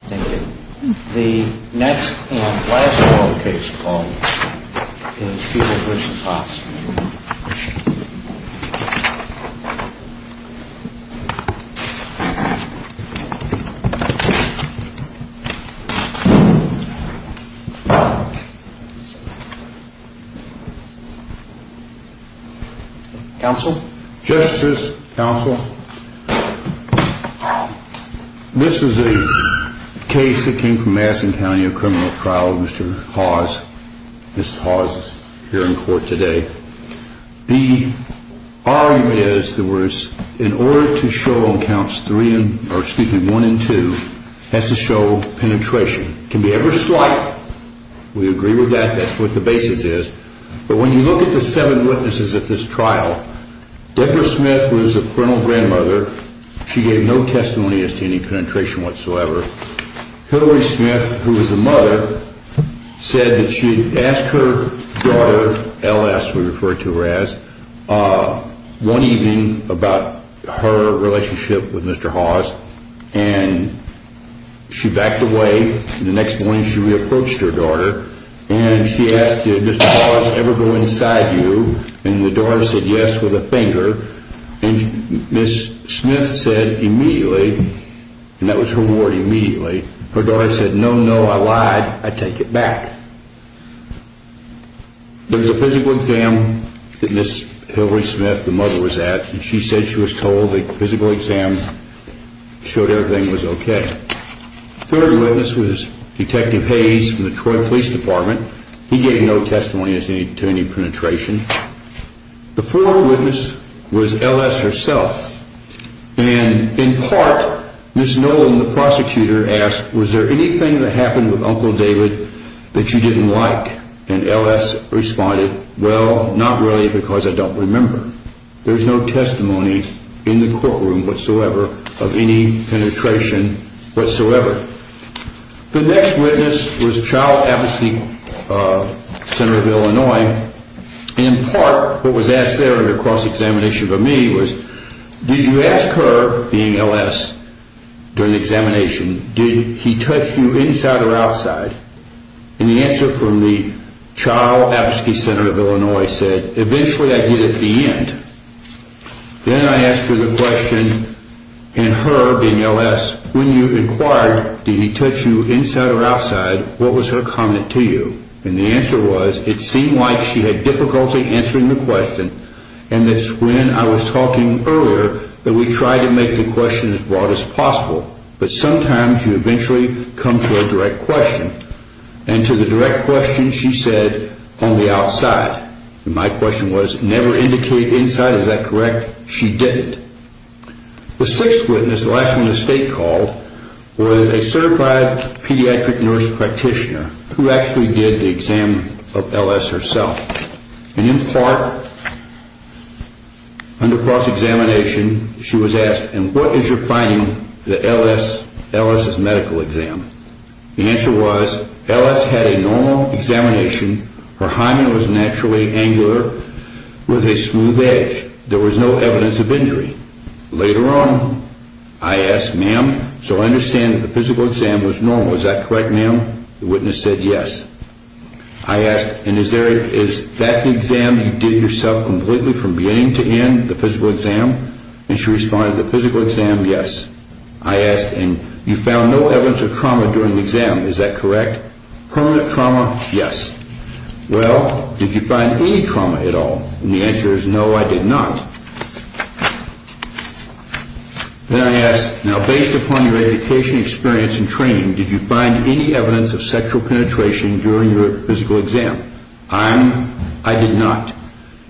Thank you. The next and last case we'll call is Fugler v. Hahs. Counsel? Justice? Counsel? This is a case that came from Madison County, a criminal trial of Mr. Hahs. Mrs. Hahs is here in court today. The argument is that in order to show on counts 1 and 2, it has to show penetration. It can be ever slight. We agree with that. That's what the basis is. But when you look at the seven witnesses at this trial, Deborah Smith was a parental grandmother. She gave no testimony as to any penetration whatsoever. Hilary Smith, who is a mother, said that she asked her daughter, L.S. we refer to her as, one evening about her relationship with Mr. Hahs, and she backed away. The next morning she re-approached her daughter, and she asked, did Mr. Hahs ever go inside you? And the daughter said yes with a finger. And Ms. Smith said immediately, and that was her word immediately, her daughter said, no, no, I lied. I take it back. There was a physical exam that Ms. Hilary Smith, the mother, was at, and she said she was told the physical exam showed everything was okay. The third witness was Detective Hayes from the Detroit Police Department. He gave no testimony as to any penetration. The fourth witness was L.S. herself, and in part, Ms. Nolan, the prosecutor, asked, was there anything that happened with Uncle David that you didn't like? And L.S. responded, well, not really because I don't remember. There's no testimony in the courtroom whatsoever of any penetration whatsoever. The next witness was Child Advocacy, Senator of Illinois, and in part, what was asked there in the cross-examination for me was, did you ask her, being L.S., during the examination, did he touch you inside or outside? And the answer from the Child Advocacy, Senator of Illinois, said, eventually I did at the end. Then I asked her the question, and her, being L.S., when you inquired, did he touch you inside or outside, what was her comment to you? And the answer was, it seemed like she had difficulty answering the question, and that's when I was talking earlier that we tried to make the question as broad as possible. But sometimes you eventually come to a direct question, and to the direct question she said, only outside. And my question was, never indicate inside, is that correct? She didn't. The sixth witness, the last one the state called, was a certified pediatric nurse practitioner who actually did the exam of L.S. herself. And in part, under cross-examination, she was asked, and what is your finding, the L.S.'s medical exam? The answer was, L.S. had a normal examination, her hymen was naturally angular, with a smooth edge. There was no evidence of injury. Later on, I asked, ma'am, so I understand the physical exam was normal, is that correct, ma'am? The witness said, yes. I asked, and is that the exam you did yourself completely from beginning to end, the physical exam? And she responded, the physical exam, yes. I asked, and you found no evidence of trauma during the exam, is that correct? Permanent trauma, yes. Well, did you find any trauma at all? And the answer is, no, I did not. Then I asked, now based upon your education, experience, and training, did you find any evidence of sexual penetration during your physical exam? I did not.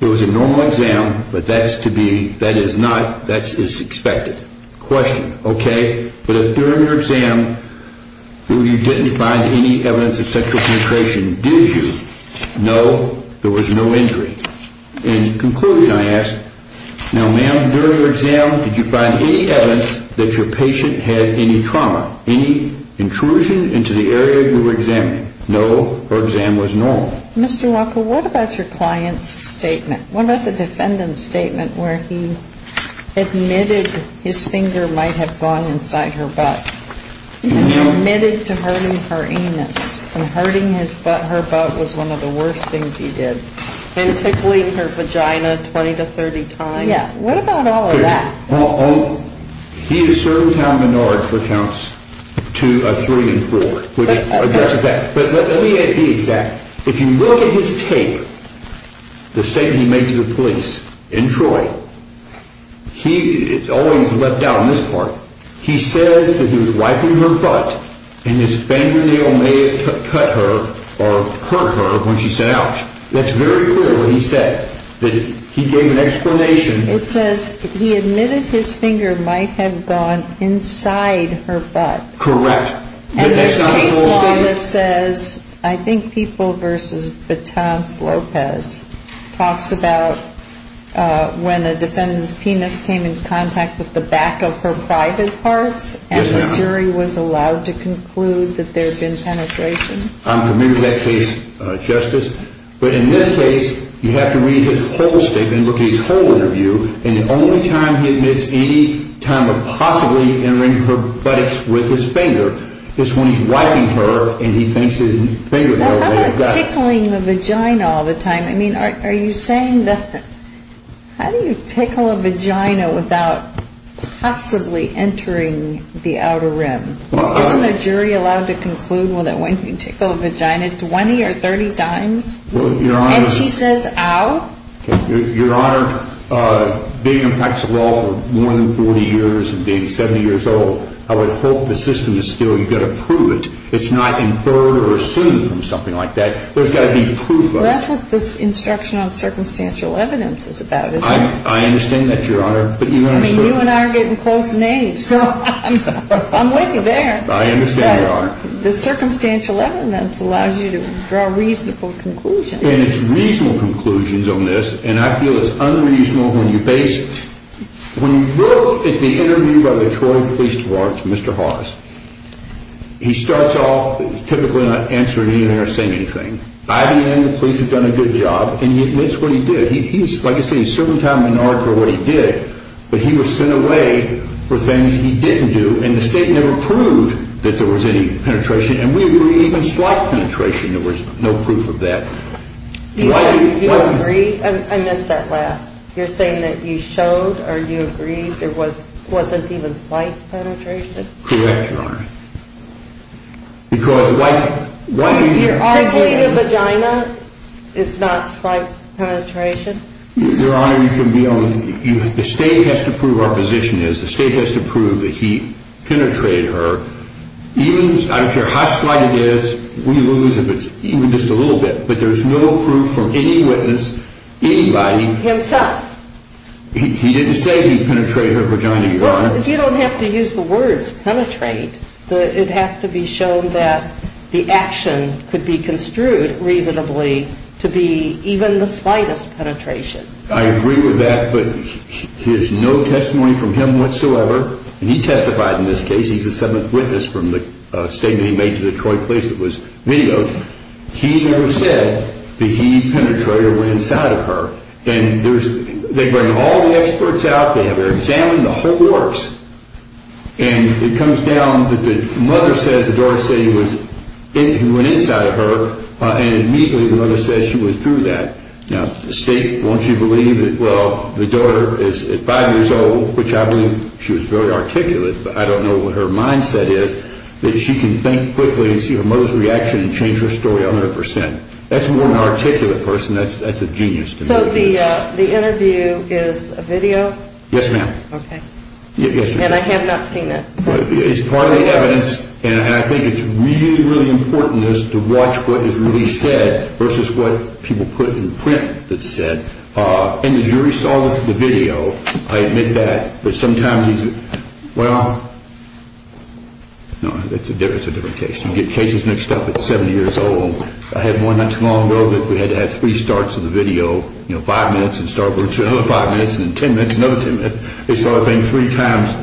It was a normal exam, but that is to be, that is not, that is expected. Question, okay, but during your exam, you didn't find any evidence of sexual penetration, did you? No, there was no injury. In conclusion, I asked, now ma'am, during your exam, did you find any evidence that your patient had any trauma, any intrusion into the area you were examining? No, her exam was normal. Mr. Walker, what about your client's statement? What about the defendant's statement where he admitted his finger might have gone inside her butt? And he admitted to hurting her anus, and hurting her butt was one of the worst things he did. And tickling her vagina 20 to 30 times. Yeah, what about all of that? Well, he asserted how Menard recounts to a three and four, which addresses that. But let me be exact. If you look at his tape, the statement he made to the police in Troy, he always left out on this part. He says that he was wiping her butt, and his fingernail may have cut her or hurt her when she sat out. That's very clear what he said. He gave an explanation. It says he admitted his finger might have gone inside her butt. Correct. And there's case law that says, I think People v. Batons Lopez, talks about when a defendant's penis came in contact with the back of her private parts, and the jury was allowed to conclude that there had been penetration. I'm familiar with that case, Justice. But in this case, you have to read his whole statement, look at his whole interview, and the only time he admits any time of possibly entering her buttocks with his finger is when he's wiping her and he thinks his fingernail may have got her. How about tickling the vagina all the time? I mean, are you saying that how do you tickle a vagina without possibly entering the outer rim? Isn't a jury allowed to conclude that when you tickle a vagina 20 or 30 times? And she says, ow? Your Honor, being in practice of law for more than 40 years and being 70 years old, I would hope the system is still you've got to prove it. It's not inferred or assumed from something like that. There's got to be proof of it. Well, that's what this instruction on circumstantial evidence is about, isn't it? I understand that, Your Honor. I mean, you and I are getting close in age, so I'm with you there. I understand, Your Honor. The circumstantial evidence allows you to draw reasonable conclusions. And it's reasonable conclusions on this, and I feel it's unreasonable when you base it. When you look at the interview by the Detroit Police Department to Mr. Hawes, he starts off typically not answering anything or saying anything. By the end, the police have done a good job, and he admits what he did. He's, like I say, a certain time in order for what he did, but he was sent away for things he didn't do, and the state never proved that there was any penetration, and we agree even slight penetration. There was no proof of that. Do you agree? I missed that last. You're saying that you showed or you agreed there wasn't even slight penetration? Correct, Your Honor. Because why do you think that? You're arguing the vagina is not slight penetration? Your Honor, the state has to prove our position is. The state has to prove that he penetrated her. I don't care how slight it is. We lose if it's even just a little bit, but there's no proof from any witness, anybody. Himself. He didn't say he penetrated her vagina, Your Honor. Well, you don't have to use the words penetrate. It has to be shown that the action could be construed reasonably to be even the slightest penetration. I agree with that, but there's no testimony from him whatsoever. He testified in this case. He's the seventh witness from the statement he made to the Detroit police that was videoed. He never said that he penetrated or went inside of her, and they bring all the experts out. They have her examined, the whole works, and it comes down that the mother says the daughter said he went inside of her, and immediately the mother says she went through that. Now, the state, won't you believe that, well, the daughter is 5 years old, which I believe she was very articulate, but I don't know what her mindset is, that she can think quickly and see her mother's reaction and change her story 100%. That's more of an articulate person. That's a genius to me. So the interview is a video? Yes, ma'am. Okay. Yes, ma'am. And I have not seen it. It's part of the evidence, and I think it's really, really important to watch what is really said versus what people put in print that's said. And the jury saw the video. I admit that. But sometimes these are, well, no, it's a different case. You get cases mixed up at 70 years old. I had one not too long ago that we had to have three starts of the video, you know, five minutes and start over, two, another five minutes, and then 10 minutes, another 10 minutes. They saw the thing three times.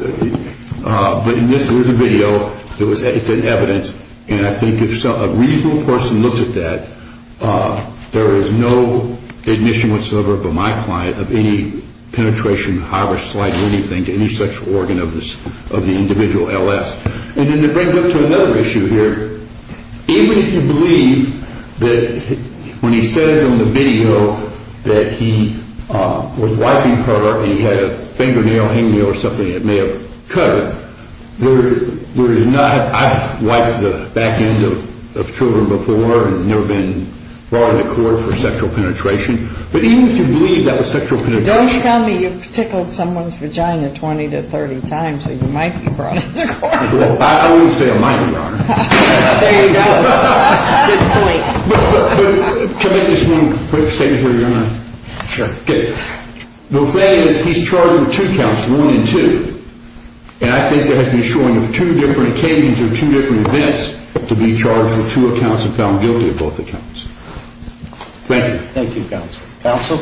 But this was a video. It's an evidence, and I think if a reasonable person looks at that, there is no admission whatsoever by my client of any penetration, harvest, or anything to any such organ of the individual L.S. And then it brings up to another issue here. Even if you believe that when he says on the video that he was wiping her and he had a fingernail, handrail, or something that may have cut her, I've wiped the back end of children before and never been brought into court for sexual penetration. But even if you believe that was sexual penetration. Don't tell me you've tickled someone's vagina 20 to 30 times or you might be brought into court. I always say I might be, Your Honor. There you go. Good point. Can I make this one quick statement here, Your Honor? Sure. The thing is he's charged with two counts, one and two. And I think there has been showing of two different occasions or two different events to be charged with two accounts and found guilty of both accounts. Thank you. Thank you, Counsel. Counsel?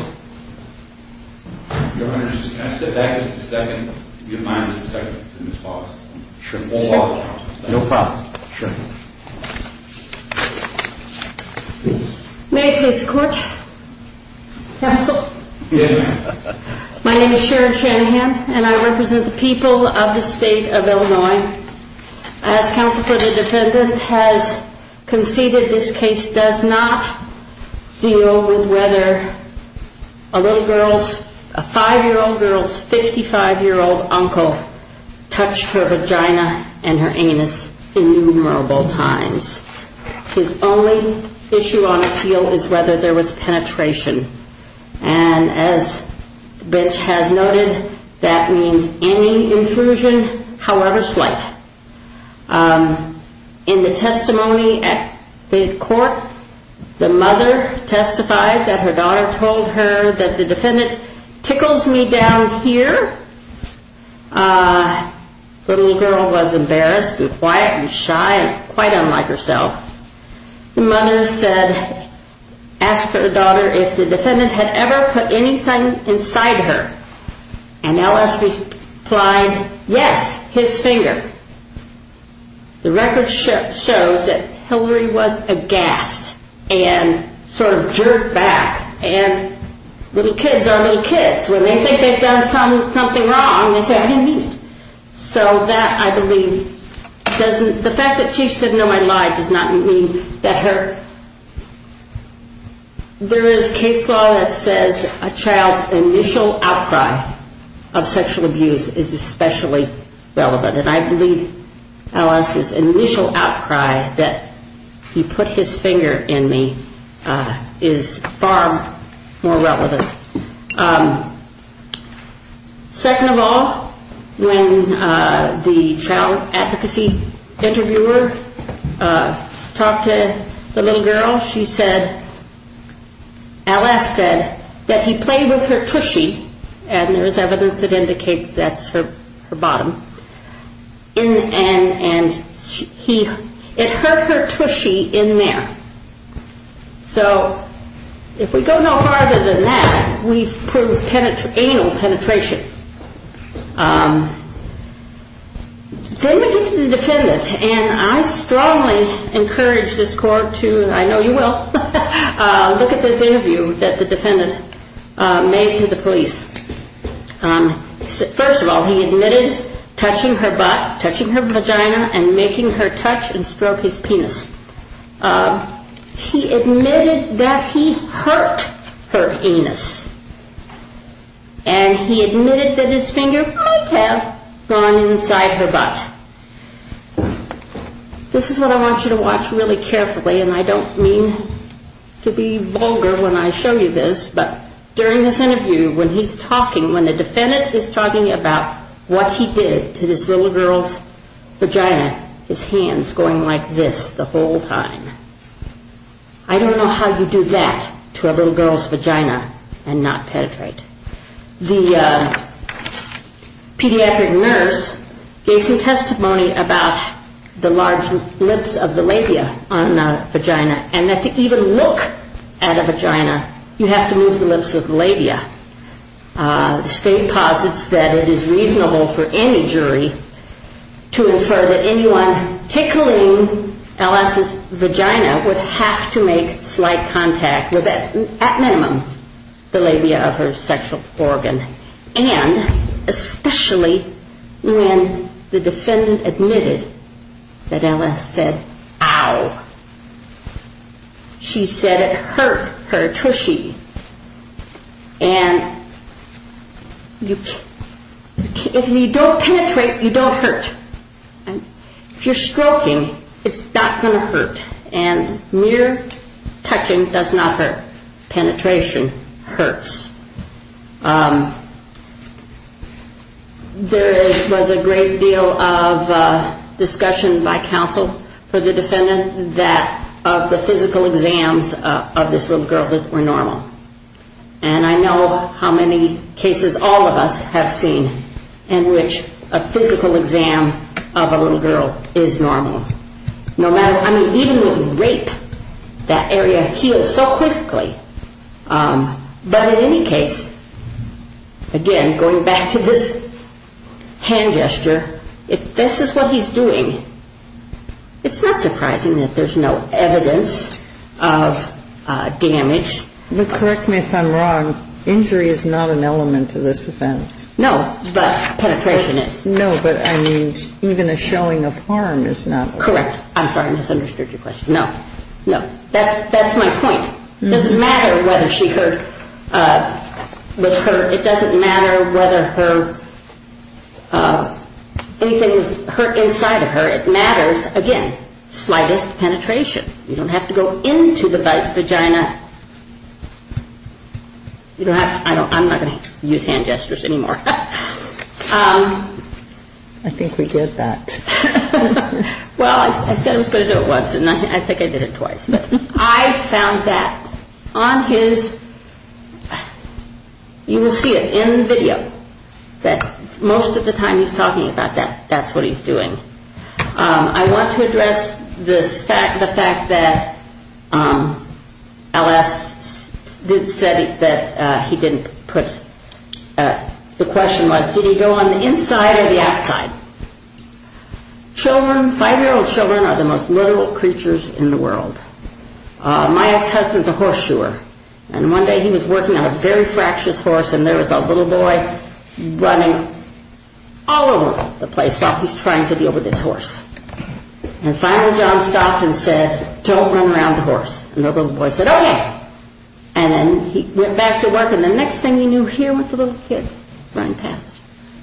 Your Honor, can I step back just a second? If you don't mind, just a second. I'm going to pause. Sure. We'll pause. No problem. Sure. May I please court? Counsel? Yes, ma'am. My name is Sharon Shanahan, and I represent the people of the state of Illinois. As counsel for the defendant has conceded, this case does not deal with whether a little girl's, a 5-year-old girl's 55-year-old uncle touched her vagina and her anus innumerable times. His only issue on appeal is whether there was penetration. And as the bench has noted, that means any intrusion, however slight. In the testimony at the court, the mother testified that her daughter told her that the defendant tickles me down here. The little girl was embarrassed and quiet and shy and quite unlike herself. The mother said, asked her daughter if the defendant had ever put anything inside her. And L.S. replied, yes, his finger. The record shows that Hillary was aghast and sort of jerked back. And little kids are little kids. When they think they've done something wrong, they say, I didn't mean it. So that, I believe, doesn't, the fact that she said, no, I lied, does not mean that her, there is case law that says a child's initial outcry of sexual abuse is especially relevant. And I believe L.S.'s initial outcry that he put his finger in me is far more relevant. Second of all, when the child advocacy interviewer talked to the little girl, she said, L.S. said that he played with her tushy. And there is evidence that indicates that's her bottom. And he, it hurt her tushy in there. So if we go no farther than that, we've proved anal penetration. Then we get to the defendant. And I strongly encourage this court to, I know you will, look at this interview that the defendant made to the police. First of all, he admitted touching her butt, touching her vagina, and making her touch and stroke his penis. He admitted that he hurt her anus. And he admitted that his finger might have gone inside her butt. This is what I want you to watch really carefully, and I don't mean to be vulgar when I show you this, but during this interview, when he's talking, when the defendant is talking about what he did to this little girl's vagina, his hands going like this the whole time, I don't know how you do that to a little girl's vagina and not penetrate. The pediatric nurse gave some testimony about the large lips of the labia on the vagina, and that to even look at a vagina, you have to move the lips of the labia. State posits that it is reasonable for any jury to infer that anyone tickling L.S.'s vagina would have to make slight contact with, at minimum, the labia of her sexual organ. And, especially when the defendant admitted that L.S. said, Ow! She said it hurt her tushy. And if you don't penetrate, you don't hurt. If you're stroking, it's not going to hurt. And mere touching does not hurt. Penetration hurts. There was a great deal of discussion by counsel for the defendant that of the physical exams of this little girl were normal. And I know how many cases all of us have seen in which a physical exam of a little girl is normal. I mean, even with rape, that area heals so quickly. But in any case, again, going back to this hand gesture, if this is what he's doing, it's not surprising that there's no evidence of damage. But correct me if I'm wrong. Injury is not an element of this offense. No, but penetration is. No, but, I mean, even a showing of harm is not. Correct. I'm sorry, I misunderstood your question. No. No. That's my point. It doesn't matter whether she hurt with her. It doesn't matter whether anything is hurt inside of her. It matters, again, slightest penetration. You don't have to go into the vagina. I'm not going to use hand gestures anymore. I think we did that. Well, I said I was going to do it once, and I think I did it twice. I found that on his, you will see it in the video, that most of the time he's talking about that, that's what he's doing. I want to address the fact that L.S. said that he didn't put, the question was, did he go on the inside or the outside? Children, five-year-old children are the most literal creatures in the world. My ex-husband's a horseshoer, and one day he was working on a very fractious horse, and there was a little boy running all over the place while he's trying to deal with this horse. And finally John stopped and said, don't run around the horse. And the little boy said, okay. And then he went back to work, and the next thing he knew, here went the little kid running past.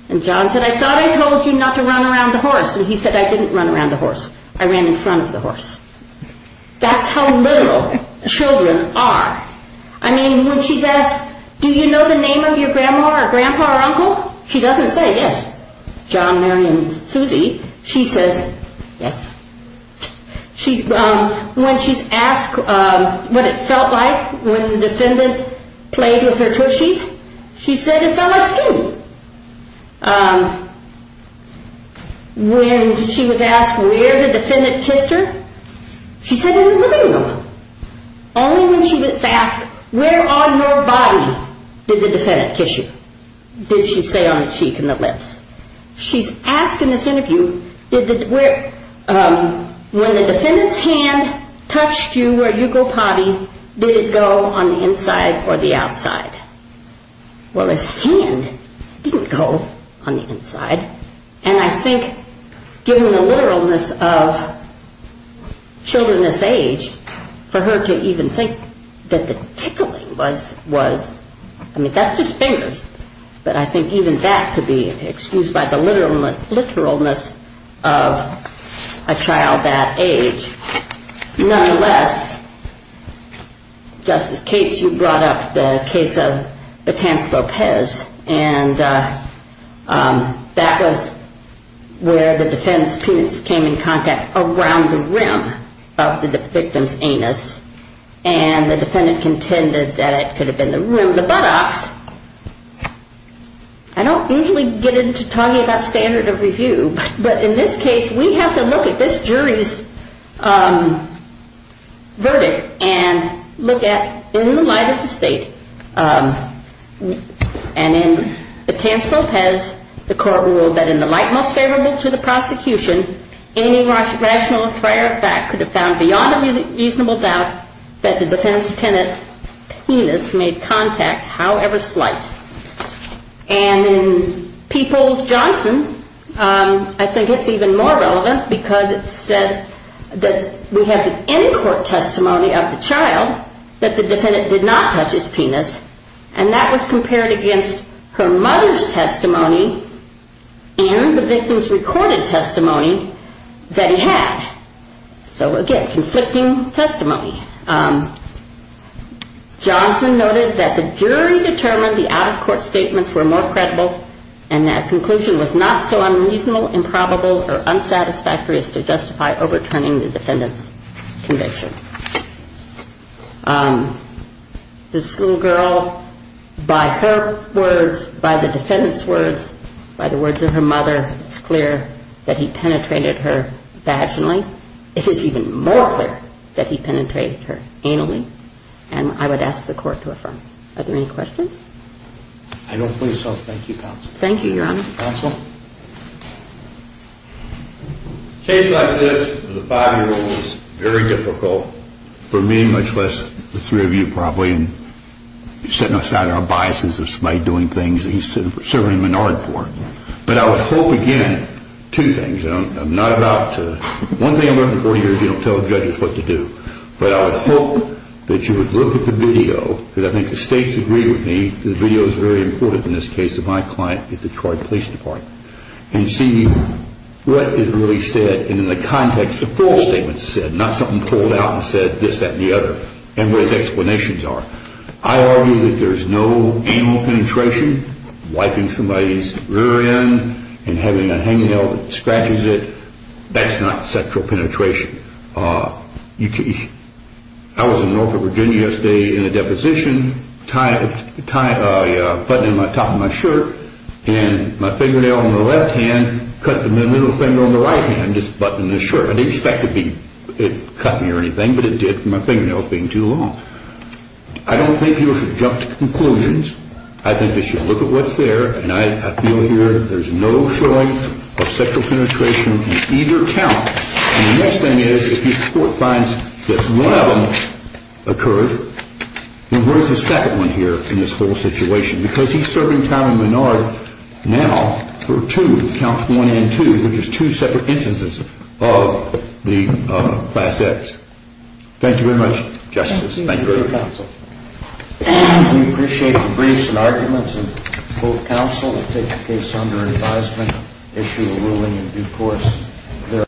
And John said, I thought I told you not to run around the horse. And he said, I didn't run around the horse. I ran in front of the horse. That's how literal children are. I mean, when she's asked, do you know the name of your grandma or grandpa or uncle, she doesn't say yes, John, Mary, and Susie. She says, yes. When she's asked what it felt like when the defendant played with her tushy, she said it felt like skinning. When she was asked where the defendant kissed her, she said in the living room. Only when she was asked, where on your body did the defendant kiss you, did she say on the cheek and the lips. She's asked in this interview, when the defendant's hand touched you where you go potty, did it go on the inside or the outside? Well, his hand didn't go on the inside. And I think given the literalness of children this age, for her to even think that the tickling was, I mean, that's just fingers. But I think even that could be excused by the literalness of a child that age. Nonetheless, Justice Cates, you brought up the case of Batanz Lopez, and that was where the defendant's penis came in contact around the rim of the victim's anus, and the defendant contended that it could have been the rim of the buttocks. I don't usually get into talking about standard of review, but in this case we have to look at this jury's verdict and look at in the light of the state and in Batanz Lopez, the court ruled that in the light most favorable to the prosecution, any rational prior fact could have found beyond a reasonable doubt that the defendant's penis made contact, however slight. And in Peoples-Johnson, I think it's even more relevant because it said that we have the in-court testimony of the child that the defendant did not touch his penis, and that was compared against her mother's testimony and the victim's recorded testimony that he had. So again, conflicting testimony. Johnson noted that the jury determined the out-of-court statements were more credible and that conclusion was not so unreasonable, improbable, or unsatisfactory as to justify overturning the defendant's conviction. This little girl, by her words, by the defendant's words, by the words of her mother, it's clear that he penetrated her passionately. And it is even more clear that he penetrated her anally, and I would ask the court to affirm. Are there any questions? I don't believe so. Thank you, counsel. Thank you, Your Honor. Counsel? A case like this with a five-year-old is very difficult for me, much less the three of you probably, and setting aside our biases of somebody doing things that he's serving a minority for. But I would hope, again, two things. One thing I learned in 40 years, you don't tell judges what to do. But I would hope that you would look at the video, because I think the stakes agree with me, the video is very important in this case of my client at the Detroit Police Department, and see what is really said and in the context of false statements said, not something pulled out and said this, that, and the other, and what his explanations are. I argue that there's no anal penetration, wiping somebody's rear end and having a hangnail that scratches it, that's not sexual penetration. I was in Norfolk, Virginia yesterday in a deposition, buttoning the top of my shirt, and my fingernail on the left hand cut the middle finger on the right hand, just buttoning the shirt. I didn't expect it to cut me or anything, but it did from my fingernails being too long. I don't think people should jump to conclusions. I think they should look at what's there, and I feel here there's no showing of sexual penetration in either count. And the next thing is if the court finds that one of them occurred, then where's the second one here in this whole situation? Because he's serving time in Menard now for two, counts one and two, which is two separate instances of the Class X. Thank you very much, Justice. Thank you, counsel. We appreciate the briefs and arguments of both counsel. We'll take the case under advisement, issue a ruling in due course.